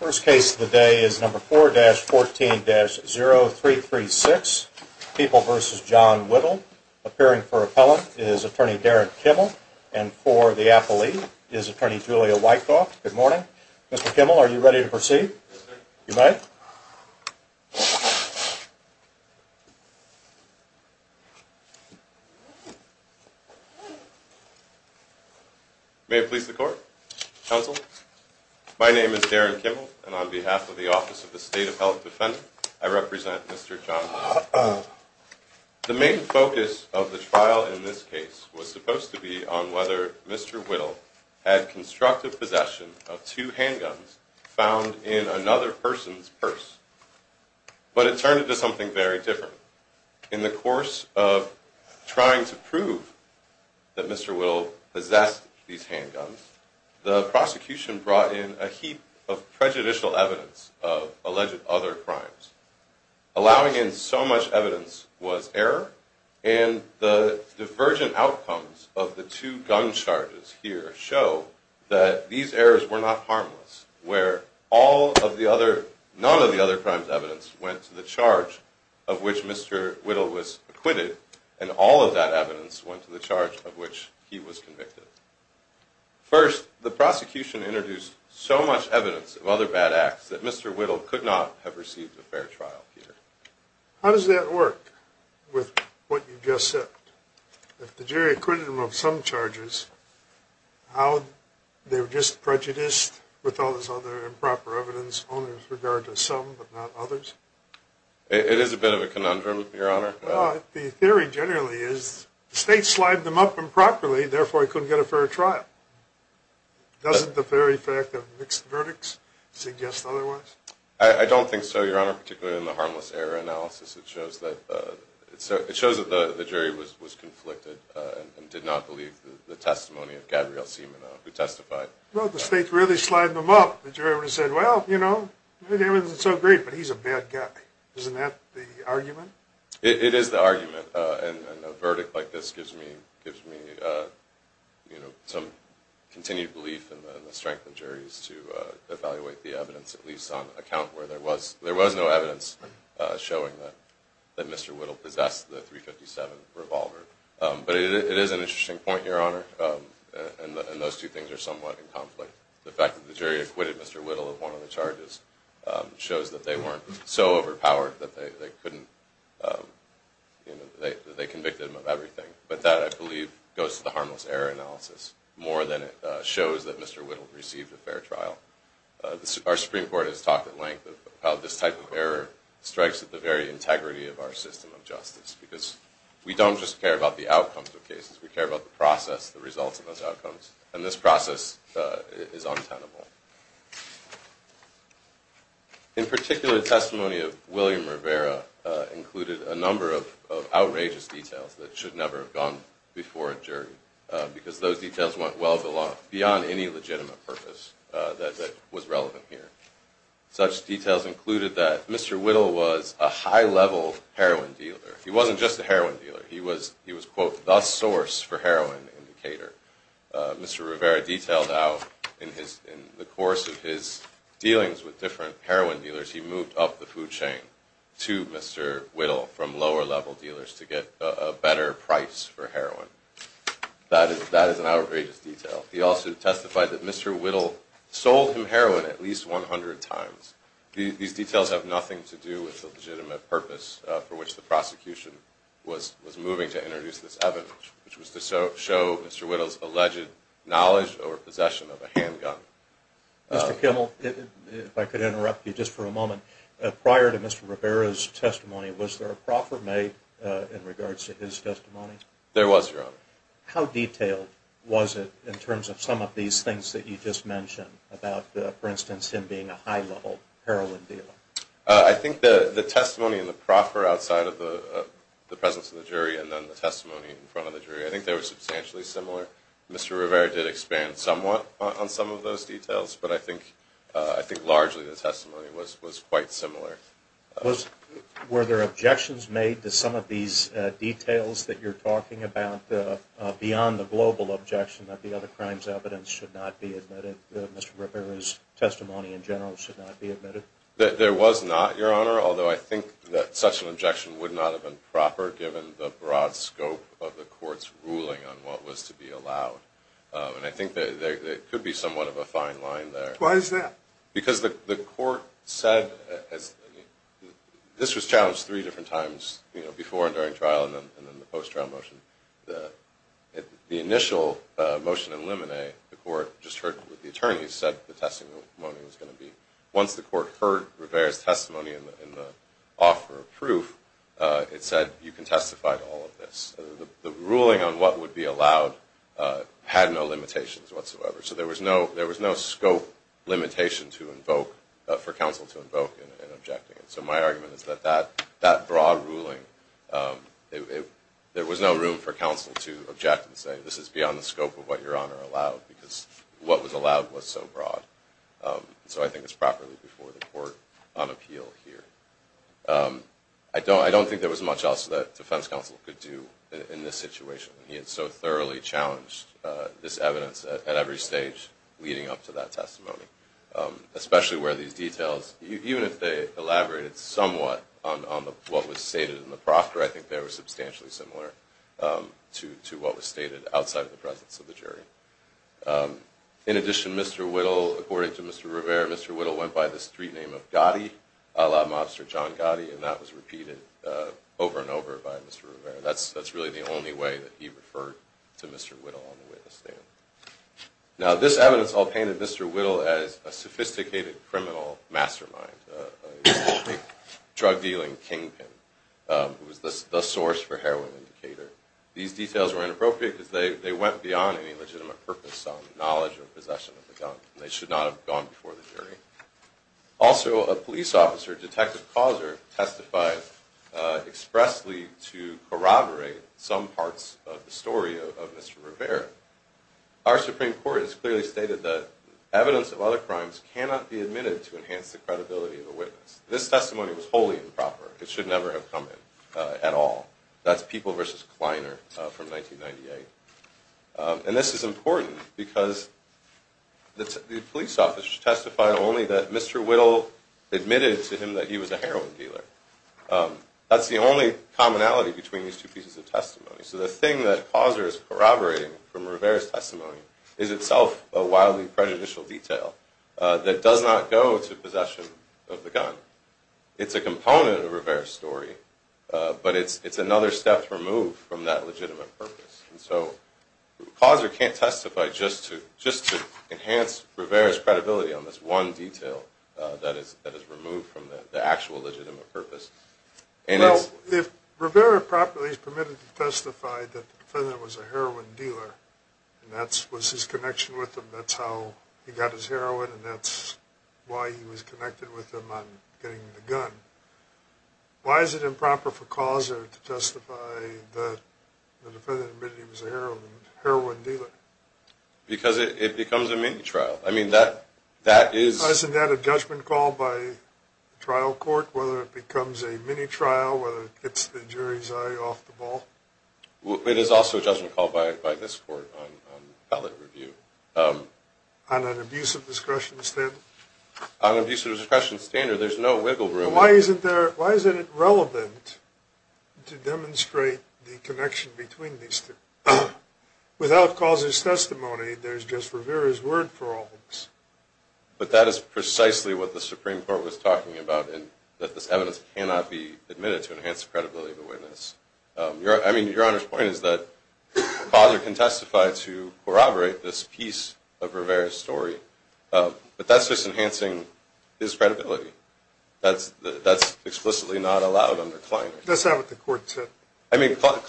First case of the day is number 4-14-0336, People v. John Whittle. Appearing for appellant is attorney Derrick Kimmel. And for the appellee is attorney Julia Wyckoff. Good morning. Mr. Kimmel, are you ready to proceed? Yes, sir. You may. May it please the court, counsel. My name is Derrick Kimmel, and on behalf of the Office of the State of Health Defendant, I represent Mr. John Whittle. The main focus of the trial in this case was supposed to be on whether Mr. Whittle had constructive possession of two handguns found in another person's purse. But it turned into something very different. In the course of trying to prove that Mr. Whittle possessed these handguns, the prosecution brought in a heap of prejudicial evidence of alleged other crimes, allowing in so much evidence was error, and the divergent outcomes of the two gun charges here show that these errors were not harmless, where none of the other crimes' evidence went to the charge of which Mr. Whittle was acquitted, and all of that evidence went to the charge of which he was convicted. First, the prosecution introduced so much evidence of other bad acts that Mr. Whittle could not have received a fair trial here. How does that work with what you just said? If the jury acquitted him of some charges, how they were just prejudiced with all this other improper evidence only with regard to some but not others? It is a bit of a conundrum, Your Honor. Well, the theory generally is the state slid them up improperly, therefore he couldn't get a fair trial. Doesn't the very fact of mixed verdicts suggest otherwise? I don't think so, Your Honor, particularly in the harmless error analysis. It shows that the jury was conflicted and did not believe the testimony of Gabrielle Simonot, who testified. Well, the state really slid them up. The jury would have said, well, you know, everything is so great, but he's a bad guy. Isn't that the argument? It is the argument. And a verdict like this gives me some continued belief in the strength of juries to evaluate the evidence, at least on account where there was no evidence showing that Mr. Whittle possessed the .357 revolver. But it is an interesting point, Your Honor, and those two things are somewhat in conflict. The fact that the jury acquitted Mr. Whittle of one of the charges shows that they weren't so overpowered that they convicted him of everything. But that, I believe, goes to the harmless error analysis more than it shows that Mr. Whittle received a fair trial. Our Supreme Court has talked at length about how this type of error strikes at the very integrity of our system of justice because we don't just care about the outcomes of cases. We care about the process, the results of those outcomes. And this process is untenable. In particular, testimony of William Rivera included a number of outrageous details that should never have gone before a jury because those details went well beyond any legitimate purpose that was relevant here. Such details included that Mr. Whittle was a high-level heroin dealer. He wasn't just a heroin dealer. He was, quote, the source for heroin in Decatur. Mr. Rivera detailed how, in the course of his dealings with different heroin dealers, he moved up the food chain to Mr. Whittle from lower-level dealers to get a better price for heroin. That is an outrageous detail. He also testified that Mr. Whittle sold him heroin at least 100 times. These details have nothing to do with the legitimate purpose for which the prosecution was moving to introduce this evidence, which was to show Mr. Whittle's alleged knowledge or possession of a handgun. Mr. Kimmel, if I could interrupt you just for a moment. Prior to Mr. Rivera's testimony, was there a proffer made in regards to his testimony? There was, Your Honor. How detailed was it in terms of some of these things that you just mentioned about, for instance, him being a high-level heroin dealer? I think the testimony and the proffer outside of the presence of the jury and then the testimony in front of the jury, I think they were substantially similar. Mr. Rivera did expand somewhat on some of those details, but I think largely the testimony was quite similar. Were there objections made to some of these details that you're talking about beyond the global objection that the other crimes evidence should not be admitted, that Mr. Rivera's testimony in general should not be admitted? There was not, Your Honor, although I think that such an objection would not have been proper given the broad scope of the Court's ruling on what was to be allowed. I think there could be somewhat of a fine line there. Why is that? Because the Court said this was challenged three different times, you know, before and during trial and then the post-trial motion. The initial motion in limine, the Court just heard what the attorneys said the testimony was going to be. Once the Court heard Rivera's testimony in the offer of proof, it said you can testify to all of this. The ruling on what would be allowed had no limitations whatsoever, so there was no scope limitation for counsel to invoke in objecting it. So my argument is that that broad ruling, there was no room for counsel to object and say, this is beyond the scope of what Your Honor allowed because what was allowed was so broad. So I think it's properly before the Court on appeal here. I don't think there was much else that defense counsel could do in this situation. He had so thoroughly challenged this evidence at every stage leading up to that testimony, especially where these details, even if they elaborated somewhat on what was stated in the proffer, I think they were substantially similar to what was stated outside of the presence of the jury. In addition, Mr. Whittle, according to Mr. Rivera, Mr. Whittle went by the street name of Gotti, a la mobster John Gotti, and that was repeated over and over by Mr. Rivera. That's really the only way that he referred to Mr. Whittle on the witness stand. Now, this evidence all painted Mr. Whittle as a sophisticated criminal mastermind, a drug-dealing kingpin who was the source for heroin in Decatur. These details were inappropriate because they went beyond any legitimate purpose, knowledge, or possession of the gun. They should not have gone before the jury. Also, a police officer, Detective Causer, testified expressly to corroborate some parts of the story of Mr. Rivera. Our Supreme Court has clearly stated that evidence of other crimes cannot be admitted to enhance the credibility of a witness. This testimony was wholly improper. It should never have come in at all. That's People v. Kleiner from 1998. And this is important because the police officer testified only that Mr. Whittle admitted to him that he was a heroin dealer. That's the only commonality between these two pieces of testimony. So the thing that Causer is corroborating from Rivera's testimony is itself a wildly prejudicial detail that does not go to possession of the gun. It's a component of Rivera's story, but it's another step removed from that legitimate purpose. And so Causer can't testify just to enhance Rivera's credibility on this one detail that is removed from the actual legitimate purpose. Well, if Rivera properly is permitted to testify that the defendant was a heroin dealer, and that was his connection with him, that's how he got his heroin, and that's why he was connected with him on getting the gun, why is it improper for Causer to testify that the defendant admitted he was a heroin dealer? Because it becomes a mini-trial. Isn't that a judgment called by trial court, whether it becomes a mini-trial, whether it gets the jury's eye off the ball? It is also a judgment called by this court on appellate review. On an abusive discretion standard? On an abusive discretion standard, there's no wiggle room. Why isn't it relevant to demonstrate the connection between these two? Without Causer's testimony, there's just Rivera's word for all of this. But that is precisely what the Supreme Court was talking about, and that this evidence cannot be admitted to enhance the credibility of the witness. I mean, Your Honor's point is that Causer can testify to corroborate this piece of Rivera's story, but that's just enhancing his credibility. That's explicitly not allowed under Kleiner. That's not what the court said. That's not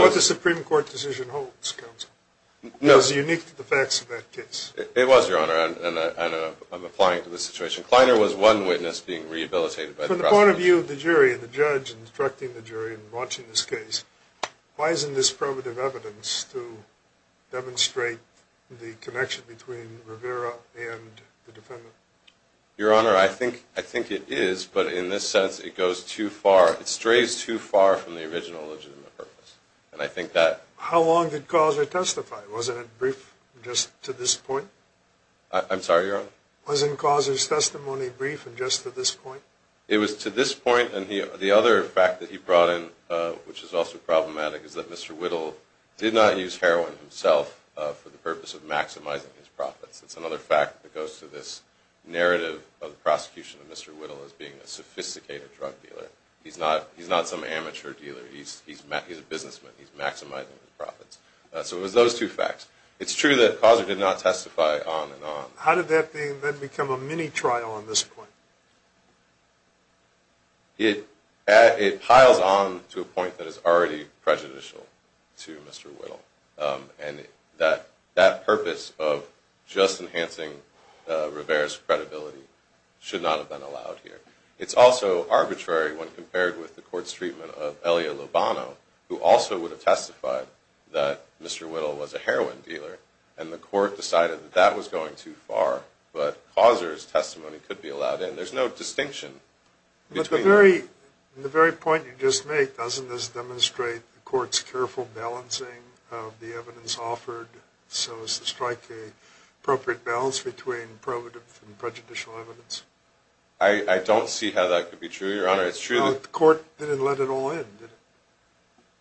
what the Supreme Court decision holds, Counsel. It's unique to the facts of that case. It was, Your Honor, and I'm applying it to this situation. Kleiner was one witness being rehabilitated. From the point of view of the jury and the judge instructing the jury in launching this case, why isn't this probative evidence to demonstrate the connection between Rivera and the defendant? Your Honor, I think it is, but in this sense it goes too far. It strays too far from the original legitimate purpose, and I think that— How long did Causer testify? Wasn't it brief just to this point? I'm sorry, Your Honor? Wasn't Causer's testimony brief and just to this point? It was to this point, and the other fact that he brought in, which is also problematic, is that Mr. Whittle did not use heroin himself for the purpose of maximizing his profits. It's another fact that goes to this narrative of the prosecution of Mr. Whittle as being a sophisticated drug dealer. He's not some amateur dealer. He's a businessman. He's maximizing his profits. So it was those two facts. It's true that Causer did not testify on and on. How did that then become a mini-trial on this point? It piles on to a point that is already prejudicial to Mr. Whittle, and that purpose of just enhancing Rivera's credibility should not have been allowed here. It's also arbitrary when compared with the court's treatment of Elia Lobano, who also would have testified that Mr. Whittle was a heroin dealer, and the court decided that that was going too far. But Causer's testimony could be allowed in. There's no distinction between— But the very point you just made, doesn't this demonstrate the court's careful balancing of the evidence offered so as to strike an appropriate balance between probative and prejudicial evidence? I don't see how that could be true, Your Honor. The court didn't let it all in, did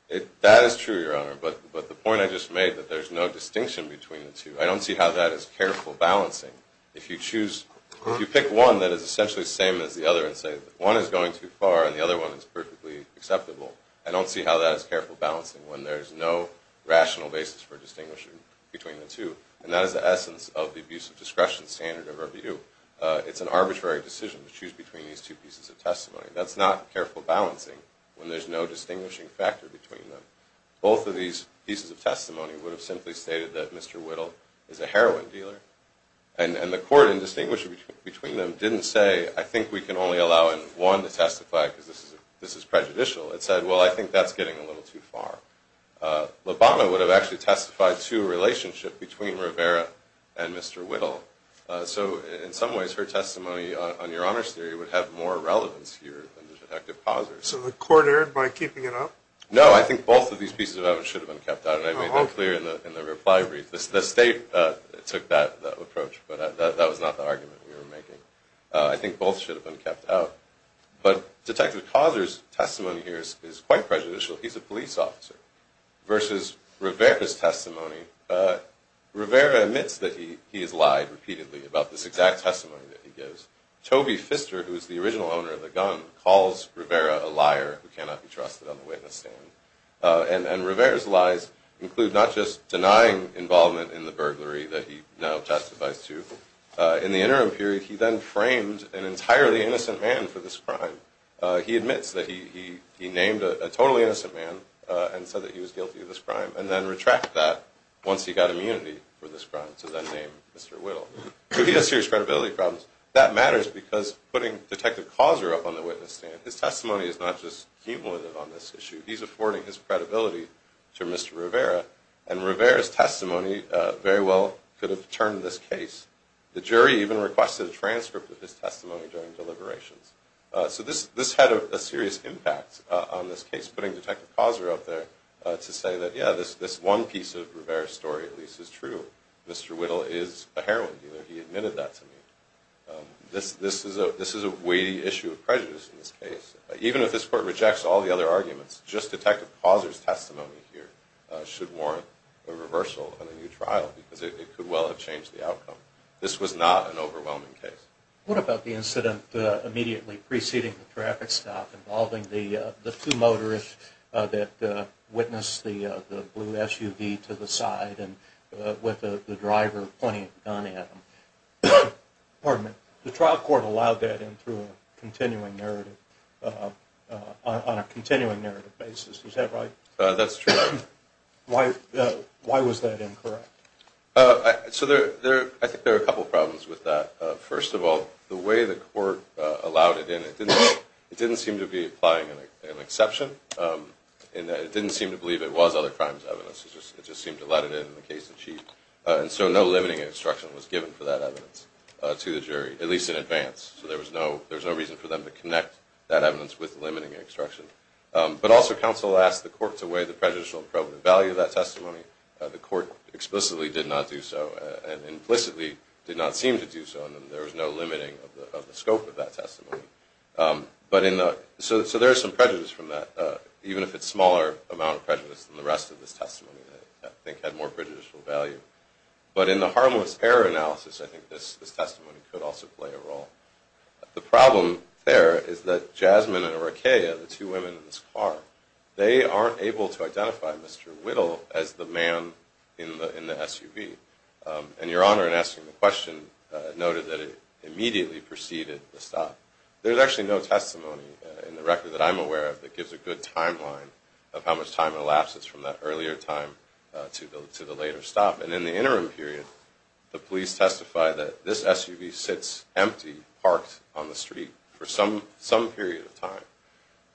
it? That is true, Your Honor. But the point I just made, that there's no distinction between the two, I don't see how that is careful balancing. If you pick one that is essentially the same as the other and say that one is going too far and the other one is perfectly acceptable, I don't see how that is careful balancing when there's no rational basis for distinguishing between the two. And that is the essence of the abuse of discretion standard of review. It's an arbitrary decision to choose between these two pieces of testimony. That's not careful balancing when there's no distinguishing factor between them. Both of these pieces of testimony would have simply stated that Mr. Whittle is a heroin dealer, and the court, in distinguishing between them, didn't say, I think we can only allow in one to testify because this is prejudicial. It said, well, I think that's getting a little too far. Lobano would have actually testified to a relationship between Rivera and Mr. Whittle. So in some ways, her testimony on your honor's theory would have more relevance here than Detective Causer's. So the court erred by keeping it up? No, I think both of these pieces of evidence should have been kept out, and I made that clear in the reply brief. The state took that approach, but that was not the argument we were making. I think both should have been kept out. But Detective Causer's testimony here is quite prejudicial. He's a police officer, versus Rivera's testimony. Rivera admits that he has lied repeatedly about this exact testimony that he gives. Toby Pfister, who is the original owner of the gun, calls Rivera a liar who cannot be trusted on the witness stand. And Rivera's lies include not just denying involvement in the burglary that he now testifies to. In the interim period, he then frames an entirely innocent man for this crime. He admits that he named a totally innocent man and said that he was guilty of this crime, and then retracts that once he got immunity for this crime, so then named Mr. Whittle. So he has serious credibility problems. That matters because putting Detective Causer up on the witness stand, his testimony is not just cumulative on this issue. He's affording his credibility to Mr. Rivera, and Rivera's testimony very well could have turned this case. The jury even requested a transcript of his testimony during deliberations. So this had a serious impact on this case, putting Detective Causer up there to say that, yeah, this one piece of Rivera's story at least is true. Mr. Whittle is a heroine. He admitted that to me. This is a weighty issue of prejudice in this case. Even if this court rejects all the other arguments, just Detective Causer's testimony here should warrant a reversal and a new trial because it could well have changed the outcome. This was not an overwhelming case. What about the incident immediately preceding the traffic stop involving the two motorists that witnessed the blue SUV to the side with the driver pointing a gun at them? Pardon me. The trial court allowed that in through a continuing narrative, on a continuing narrative basis. Is that right? That's true. Why was that incorrect? So I think there are a couple problems with that. First of all, the way the court allowed it in, it didn't seem to be applying an exception. It didn't seem to believe it was other crimes evidence. It just seemed to let it in in the case in chief. And so no limiting instruction was given for that evidence to the jury, at least in advance. So there was no reason for them to connect that evidence with limiting instruction. But also counsel asked the court to weigh the prejudicial and probative value of that testimony. The court explicitly did not do so and implicitly did not seem to do so. And there was no limiting of the scope of that testimony. So there is some prejudice from that, even if it's a smaller amount of prejudice than the rest of this testimony that I think had more prejudicial value. But in the harmless error analysis, I think this testimony could also play a role. The problem there is that Jasmine and Arakaya, the two women in this car, they aren't able to identify Mr. Whittle as the man in the SUV. And Your Honor, in asking the question, noted that it immediately preceded the stop. There's actually no testimony in the record that I'm aware of that gives a good timeline of how much time elapses from that earlier time to the later stop. And in the interim period, the police testified that this SUV sits empty, parked on the street for some period of time.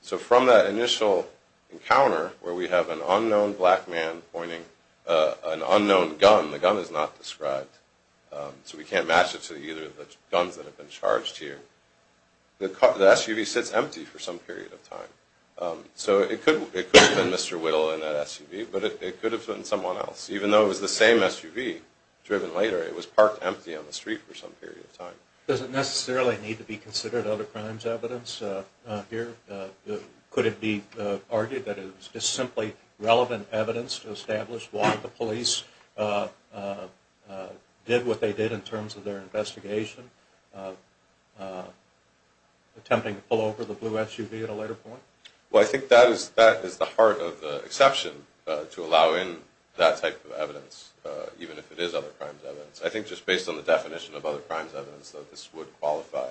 So from that initial encounter where we have an unknown black man pointing an unknown gun, the gun is not described, so we can't match it to either of the guns that have been charged here, the SUV sits empty for some period of time. So it could have been Mr. Whittle in that SUV, but it could have been someone else. Even though it was the same SUV driven later, it was parked empty on the street for some period of time. Does it necessarily need to be considered other crimes evidence here? Could it be argued that it is simply relevant evidence to establish why the police did what they did in terms of their investigation, attempting to pull over the blue SUV at a later point? Well, I think that is the heart of the exception, to allow in that type of evidence, even if it is other crimes evidence. I think just based on the definition of other crimes evidence that this would qualify,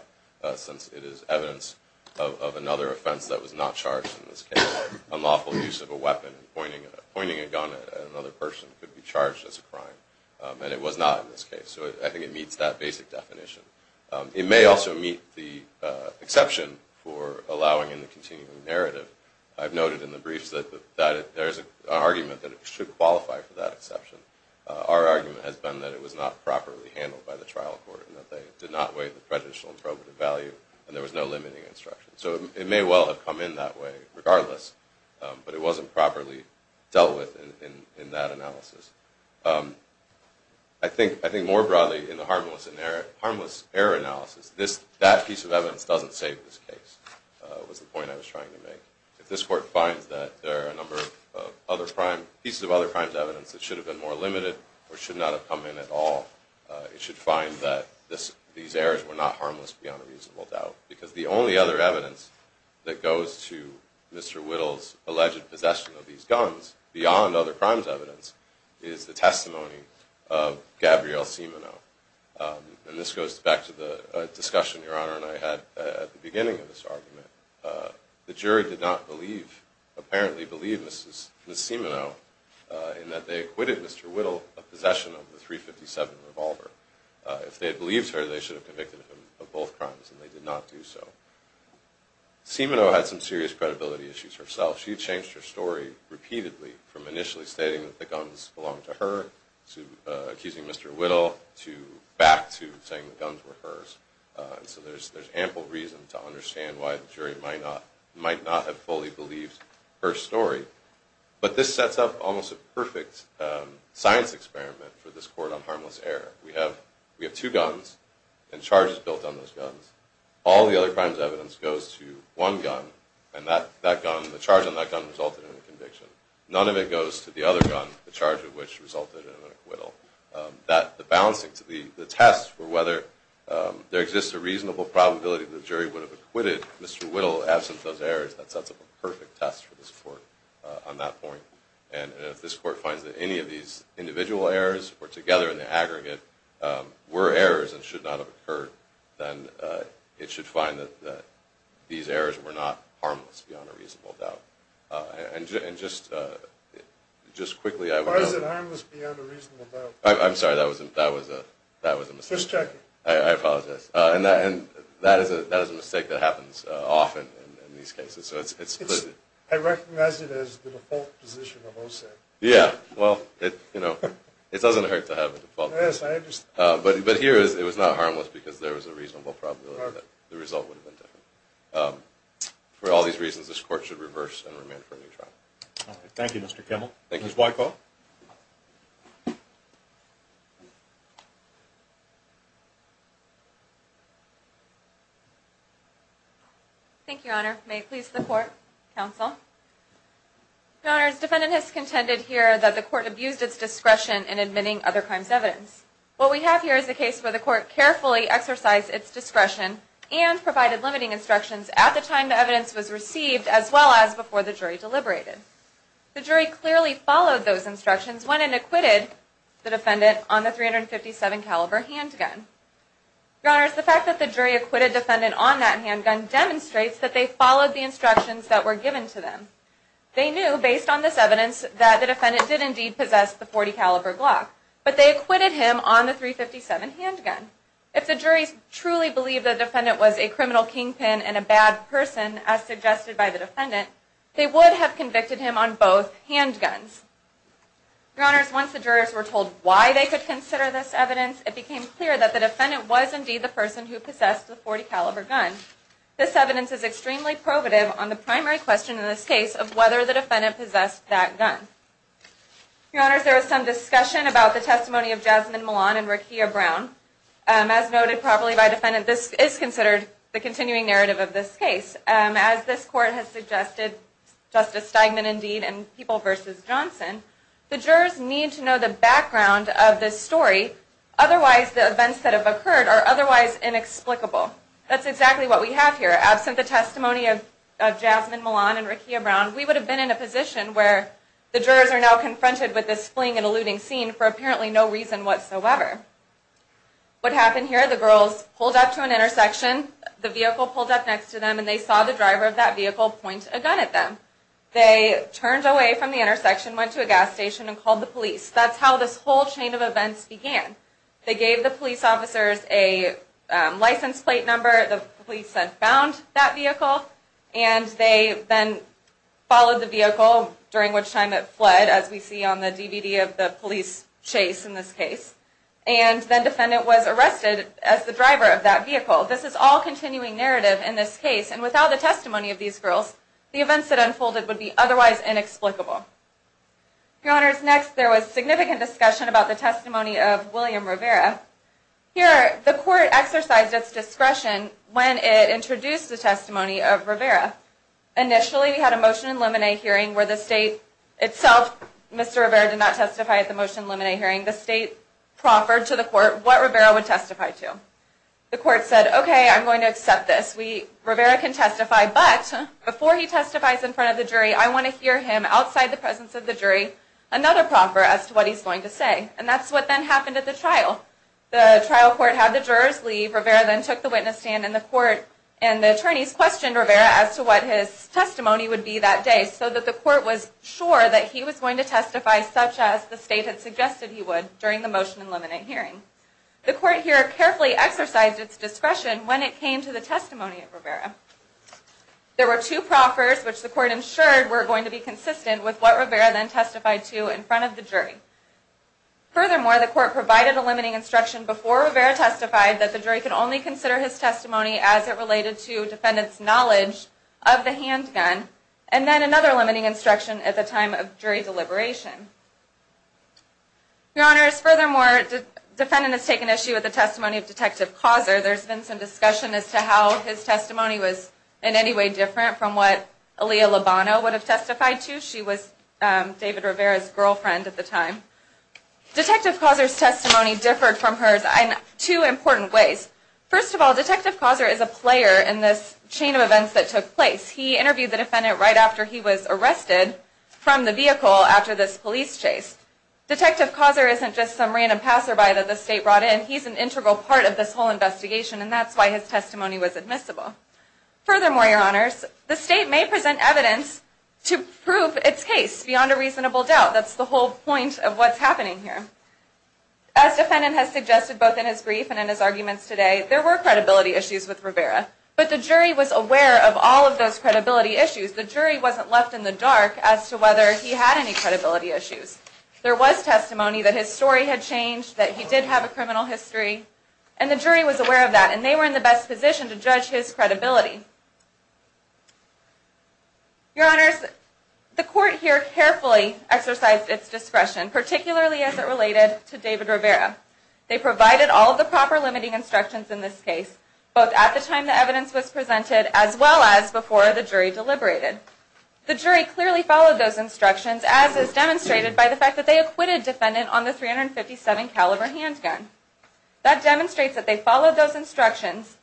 since it is evidence of another offense that was not charged in this case, unlawful use of a weapon, pointing a gun at another person could be charged as a crime. And it was not in this case, so I think it meets that basic definition. It may also meet the exception for allowing in the continuing narrative. I've noted in the briefs that there is an argument that it should qualify for that exception. Our argument has been that it was not properly handled by the trial court, and that they did not weigh the prejudicial and probative value, and there was no limiting instruction. So it may well have come in that way regardless, but it wasn't properly dealt with in that analysis. I think more broadly in the harmless error analysis, that piece of evidence doesn't save this case, was the point I was trying to make. If this court finds that there are a number of pieces of other crimes evidence that should have been more limited, or should not have come in at all, it should find that these errors were not harmless beyond a reasonable doubt. Because the only other evidence that goes to Mr. Whittle's alleged possession of these guns, beyond other crimes evidence, is the testimony of Gabrielle Simonow. And this goes back to the discussion Your Honor and I had at the beginning of this argument. The jury did not believe, apparently believe, Ms. Simonow in that they acquitted Mr. Whittle of possession of the .357 revolver. If they had believed her, they should have convicted him of both crimes, and they did not do so. Simonow had some serious credibility issues herself. She changed her story repeatedly, from initially stating that the guns belonged to her, to accusing Mr. Whittle, to back to saying the guns were hers. So there's ample reason to understand why the jury might not have fully believed her story. But this sets up almost a perfect science experiment for this court on harmless error. We have two guns, and charges built on those guns. All the other crimes evidence goes to one gun, and the charge on that gun resulted in a conviction. None of it goes to the other gun, the charge of which resulted in an acquittal. The test for whether there exists a reasonable probability that the jury would have acquitted Mr. Whittle absent those errors, that sets up a perfect test for this court on that point. And if this court finds that any of these individual errors, or together in the aggregate, were errors and should not have occurred, then it should find that these errors were not harmless beyond a reasonable doubt. And just quickly, I would note... Why is it harmless beyond a reasonable doubt? I'm sorry, that was a mistake. Just checking. I apologize. And that is a mistake that happens often in these cases, so it's... I recognize it as the default position of OSAP. Yeah, well, it doesn't hurt to have a default position. Yes, I understand. But here, it was not harmless because there was a reasonable probability that the result would have been different. For all these reasons, this court should reverse and remand for a new trial. Thank you, Mr. Kemmel. Thank you. Ms. Wyko. Thank you, Your Honor. May it please the Court, Counsel. Your Honor, the defendant has contended here that the court abused its discretion in admitting other crimes' evidence. What we have here is a case where the court carefully exercised its discretion and provided limiting instructions at the time the evidence was received as well as before the jury deliberated. The jury clearly followed those instructions when it acquitted the defendant on the .357 caliber handgun. Your Honor, the fact that the jury acquitted the defendant on that handgun demonstrates that they followed the instructions that were given to them. They knew, based on this evidence, that the defendant did indeed possess the .40 caliber Glock. But they acquitted him on the .357 handgun. If the jury truly believed the defendant was a criminal kingpin and a bad person, as suggested by the defendant, they would have convicted him on both handguns. Your Honor, once the jurors were told why they could consider this evidence, it became clear that the defendant was indeed the person who possessed the .40 caliber gun. This evidence is extremely probative on the primary question in this case of whether the defendant possessed that gun. Your Honor, there was some discussion about the testimony of Jasmine Millon and Rekia Brown. As noted properly by the defendant, this is considered the continuing narrative of this case. As this court has suggested, Justice Steigman indeed, and People v. Johnson, the jurors need to know the background of this story. Otherwise, the events that have occurred are otherwise inexplicable. That's exactly what we have here. Absent the testimony of Jasmine Millon and Rekia Brown, we would have been in a position where the jurors are now confronted with this fling and eluding scene for apparently no reason whatsoever. What happened here, the girls pulled up to an intersection, the vehicle pulled up next to them, and they saw the driver of that vehicle point a gun at them. They turned away from the intersection, went to a gas station, and called the police. That's how this whole chain of events began. They gave the police officers a license plate number, the police then found that vehicle, and they then followed the vehicle, during which time it fled, as we see on the DVD of the police chase in this case. And then the defendant was arrested as the driver of that vehicle. This is all continuing narrative in this case, and without the testimony of these girls, the events that unfolded would be otherwise inexplicable. Your Honors, next there was significant discussion about the testimony of William Rivera. Here, the court exercised its discretion when it introduced the testimony of Rivera. Initially, we had a motion in limine hearing where the state itself, Mr. Rivera did not testify at the motion in limine hearing, the state proffered to the court what Rivera would testify to. The court said, okay, I'm going to accept this, Rivera can testify, but before he testifies in front of the jury, I want to hear him, outside the presence of the jury, another proffer as to what he's going to say. And that's what then happened at the trial. The trial court had the jurors leave, Rivera then took the witness stand, and the court and the attorneys questioned Rivera as to what his testimony would be that day, so that the court was sure that he was going to testify such as the state had suggested he would during the motion in limine hearing. The court here carefully exercised its discretion when it came to the testimony of Rivera. There were two proffers which the court ensured were going to be consistent with what Rivera then testified to in front of the jury. Furthermore, the court provided a limiting instruction before Rivera testified that the jury could only consider his testimony as it related to defendant's knowledge of the handgun, and then another limiting instruction at the time of jury deliberation. Your Honors, furthermore, the defendant has taken issue with the testimony of Detective Causer. There's been some discussion as to how his testimony was in any way different from what Aaliyah Lobano would have testified to. She was David Rivera's girlfriend at the time. Detective Causer's testimony differed from hers in two important ways. First of all, Detective Causer is a player in this chain of events that took place. He interviewed the defendant right after he was arrested from the vehicle after this police chase. Detective Causer isn't just some random passerby that the state brought in. He's an integral part of this whole investigation, and that's why his testimony was admissible. Furthermore, Your Honors, the state may present evidence to prove its case beyond a reasonable doubt. That's the whole point of what's happening here. As the defendant has suggested both in his brief and in his arguments today, there were credibility issues with Rivera, but the jury was aware of all of those credibility issues. The jury wasn't left in the dark as to whether he had any credibility issues. There was testimony that his story had changed, that he did have a criminal history, and the jury was aware of that, and they were in the best position to judge his credibility. Your Honors, the court here carefully exercised its discretion, particularly as it related to David Rivera. They provided all of the proper limiting instructions in this case, both at the time the evidence was presented as well as before the jury deliberated. The jury clearly followed those instructions as is demonstrated by the fact that they acquitted the defendant on the .357 caliber handgun. That demonstrates that they followed those instructions,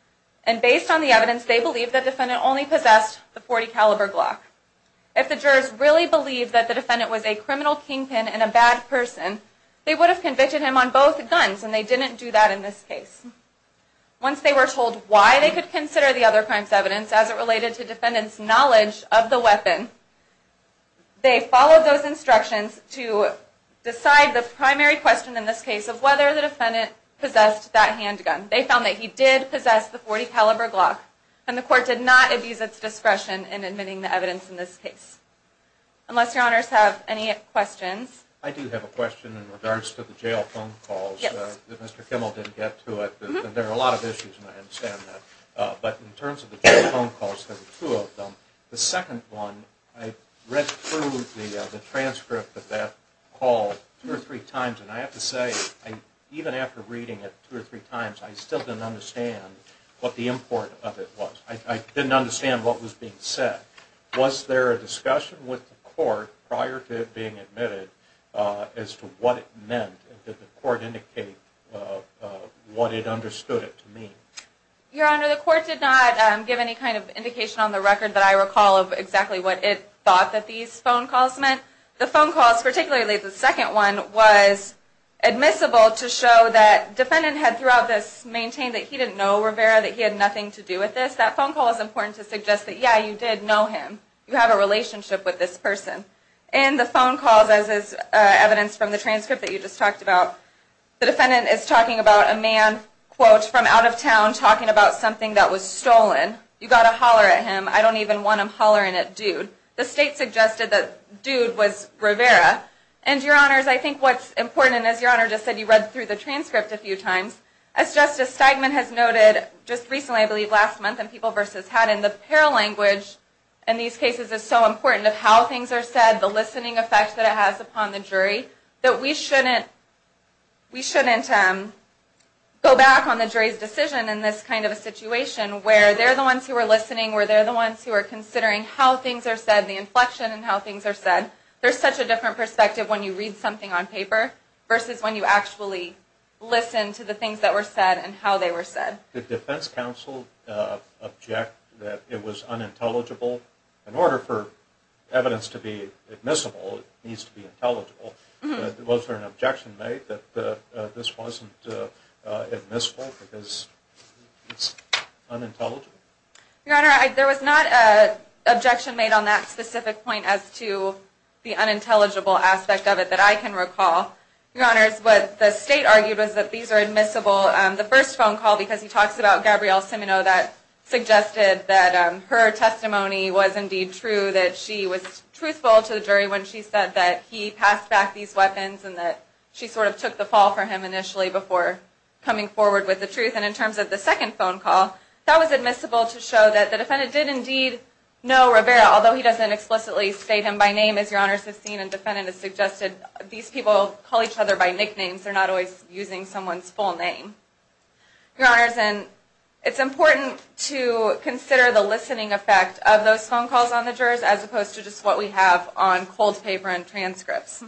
and based on the evidence, they believe that the defendant only possessed the .40 caliber Glock. If the jurors really believed that the defendant was a criminal kingpin and a bad person, they would have convicted him on both guns, and they didn't do that in this case. Once they were told why they could consider the other crime's evidence, as it related to the defendant's knowledge of the weapon, they followed those instructions to decide the primary question in this case of whether the defendant possessed that handgun. They found that he did possess the .40 caliber Glock, and the court did not abuse its discretion in admitting the evidence in this case. Unless Your Honors have any questions? I do have a question in regards to the jail phone calls that Mr. Kimmel didn't get to. There are a lot of issues, and I understand that. But in terms of the jail phone calls, there were two of them. The second one, I read through the transcript of that call two or three times, and I have to say, even after reading it two or three times, I still didn't understand what the import of it was. I didn't understand what was being said. Was there a discussion with the court prior to it being admitted as to what it meant? Did the court indicate what it understood it to mean? Your Honor, the court did not give any kind of indication on the record that I recall of exactly what it thought that these phone calls meant. The phone calls, particularly the second one, was admissible to show that the defendant had throughout this maintained that he didn't know Rivera, that he had nothing to do with this. That phone call is important to suggest that, yeah, you did know him. You have a relationship with this person. In the phone calls, as is evidenced from the transcript that you just talked about, the defendant is talking about a man, quote, from out of town talking about something that was stolen. You've got to holler at him. I don't even want him hollering at dude. The state suggested that dude was Rivera. And, Your Honors, I think what's important, and as Your Honor just said, you read through the transcript a few times, as Justice Steigman has noted just recently, I believe last month in People v. Haddon, the paralanguage in these cases is so important of how things are said, the listening effect that it has upon the jury, that we shouldn't go back on the jury's decision in this kind of a situation where they're the ones who are listening, where they're the ones who are considering how things are said, the inflection in how things are said. There's such a different perspective when you read something on paper versus when you actually listen to the things that were said and how they were said. The defense counsel objected that it was unintelligible. In order for evidence to be admissible, it needs to be intelligible. Was there an objection made that this wasn't admissible because it's unintelligible? Your Honor, there was not an objection made on that specific point as to the unintelligible aspect of it that I can recall. Your Honors, what the state argued was that these are admissible. The first phone call, because he talks about Gabrielle Simino, that suggested that her testimony was indeed true, that she was truthful to the jury when she said that he passed back these weapons and that she sort of took the fall for him initially before coming forward with the truth. And in terms of the second phone call, that was admissible to show that the defendant did indeed know Rivera, although he doesn't explicitly state him by name, as Your Honors have seen, and the defendant has suggested these people call each other by nicknames. They're not always using someone's full name. Your Honors, it's important to consider the listening effect of those phone calls on the jurors as opposed to just what we have on cold paper and transcripts.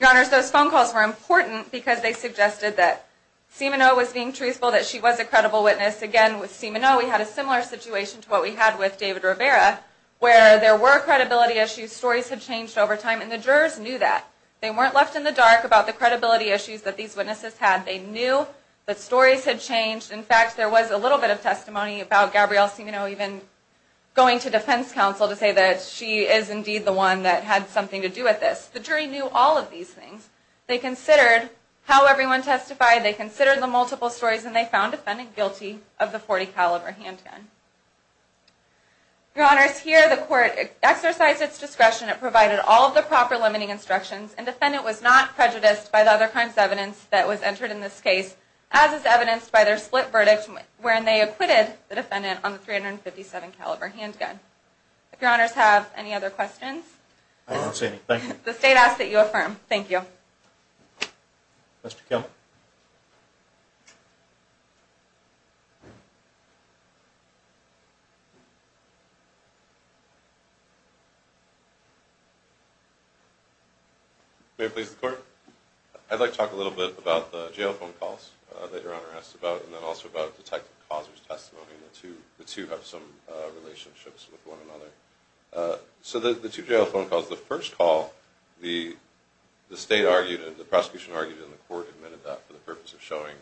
Your Honors, those phone calls were important because they suggested that Simino was being truthful, that she was a credible witness. Again, with Simino we had a similar situation to what we had with David Rivera where there were credibility issues, stories had changed over time, and the jurors knew that. They weren't left in the dark about the credibility issues that these witnesses had. They knew that stories had changed. In fact, there was a little bit of testimony about Gabrielle Simino even going to defense counsel to say that she is indeed the one that had something to do with this. The jury knew all of these things. They considered how everyone testified, they considered the multiple stories, and they found the defendant guilty of the .40 caliber handgun. Your Honors, here the court exercised its discretion and provided all of the proper limiting instructions, and the defendant was not prejudiced by the other crimes evidence that was entered in this case as is evidenced by their split verdict when they acquitted the defendant on the .357 caliber handgun. If Your Honors have any other questions? I don't see anything. The State asks that you affirm. Thank you. Mr. Kelly? May it please the Court? I'd like to talk a little bit about the jail phone calls that Your Honor asked about, and then also about Detective Causer's testimony. The two have some relationships with one another. So the two jail phone calls, the first call, the State argued and the prosecution argued and the Court admitted that for the purpose of showing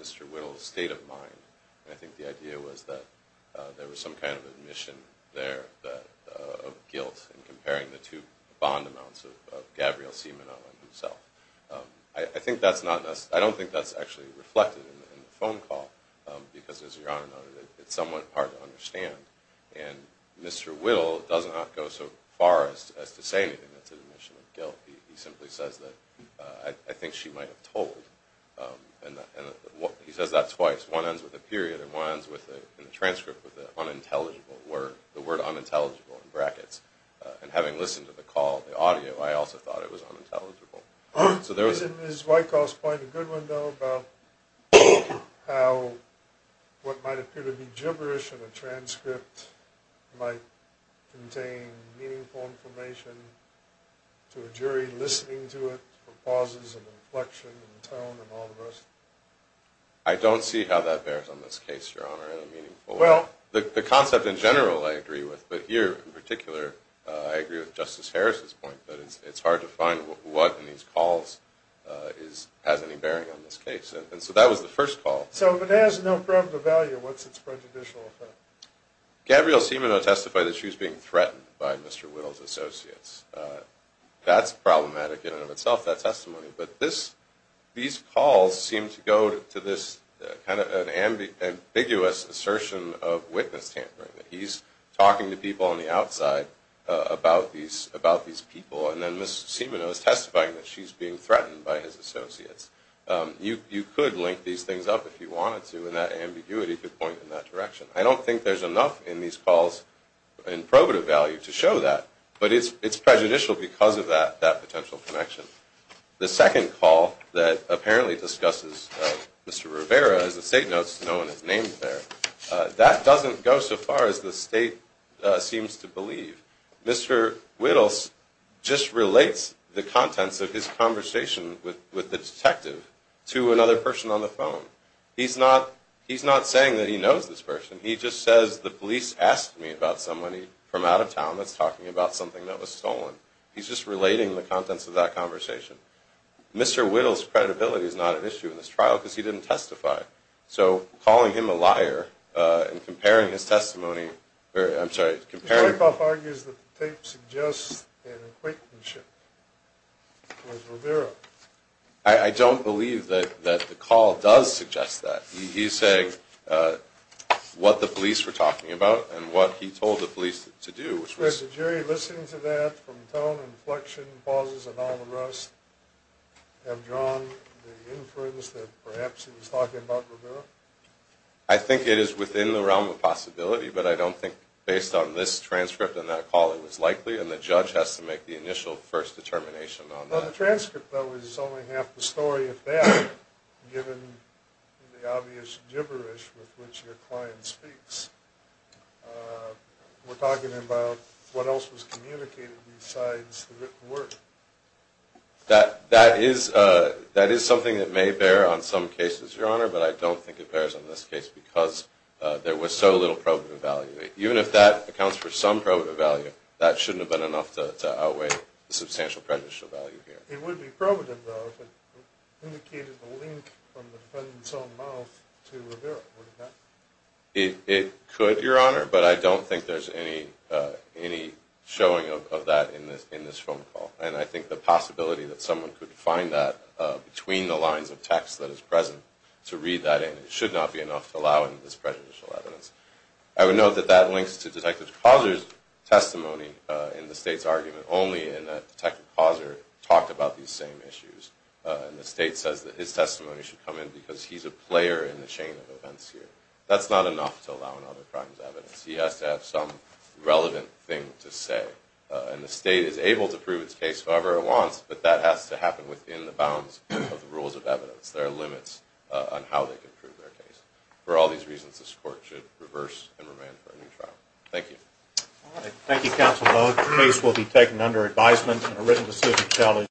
Mr. Whittle's state of mind. I think the idea was that there was some kind of admission there of guilt in comparing the two bond amounts of Gabrielle Simono and himself. I don't think that's actually reflected in the phone call, because as Your Honor noted, it's somewhat hard to understand. And Mr. Whittle does not go so far as to say anything that's an admission of guilt. He simply says that, I think she might have told. He says that twice. One ends with a period and one ends in a transcript with the word unintelligible in brackets. And having listened to the call, the audio, I also thought it was unintelligible. Is Wyckoff's point a good one, though, about how what might appear to be gibberish in a transcript might contain meaningful information to a jury listening to it for pauses and inflection and tone and all the rest? I don't see how that bears on this case, Your Honor, in a meaningful way. The concept in general I agree with, but here in particular I agree with Justice Harris's point that it's hard to find what in these calls has any bearing on this case. And so that was the first call. So if it has no problem of value, what's its prejudicial effect? Gabrielle Simono testified that she was being threatened by Mr. Whittle's associates. That's problematic in and of itself, that testimony. But these calls seem to go to this kind of ambiguous assertion of witness tampering, that he's talking to people on the outside about these people, and then Ms. Simono is testifying that she's being threatened by his associates. You could link these things up if you wanted to, and that ambiguity could point in that direction. I don't think there's enough in these calls in probative value to show that, but it's prejudicial because of that potential connection. The second call that apparently discusses Mr. Rivera, as the State notes, no one is named there, that doesn't go so far as the State seems to believe. Mr. Whittle just relates the contents of his conversation with the detective to another person on the phone. He's not saying that he knows this person. He just says, the police asked me about somebody from out of town that's talking about something that was stolen. He's just relating the contents of that conversation. Mr. Whittle's credibility is not an issue in this trial because he didn't testify. So calling him a liar and comparing his testimony, I'm sorry, comparing... The wipe-off argues that the tape suggests an acquaintanceship with Rivera. I don't believe that the call does suggest that. He's saying what the police were talking about and what he told the police to do, which was... The tone, inflection, pauses, and all the rest have drawn the inference that perhaps he was talking about Rivera? I think it is within the realm of possibility, but I don't think based on this transcript and that call it was likely, and the judge has to make the initial first determination on that. Well, the transcript, though, is only half the story of that, given the obvious gibberish with which your client speaks. We're talking about what else was communicated besides the written word. That is something that may bear on some cases, Your Honor, but I don't think it bears on this case because there was so little probative value. Even if that accounts for some probative value, that shouldn't have been enough to outweigh the substantial prejudicial value here. It would be probative, though, if it indicated a link from the defendant's own mouth to Rivera. It could, Your Honor, but I don't think there's any showing of that in this phone call, and I think the possibility that someone could find that between the lines of text that is present to read that in should not be enough to allow in this prejudicial evidence. I would note that that links to Detective Causer's testimony in the State's argument only, in that Detective Causer talked about these same issues, and the State says that his testimony should come in because he's a player in the chain of events here. That's not enough to allow in other crimes' evidence. He has to have some relevant thing to say, and the State is able to prove its case however it wants, but that has to happen within the bounds of the rules of evidence. There are limits on how they can prove their case. For all these reasons, this Court should reverse and remand for a new trial. Thank you. Thank you, Counsel Boag. The case will be taken under advisement and a written decision challenged.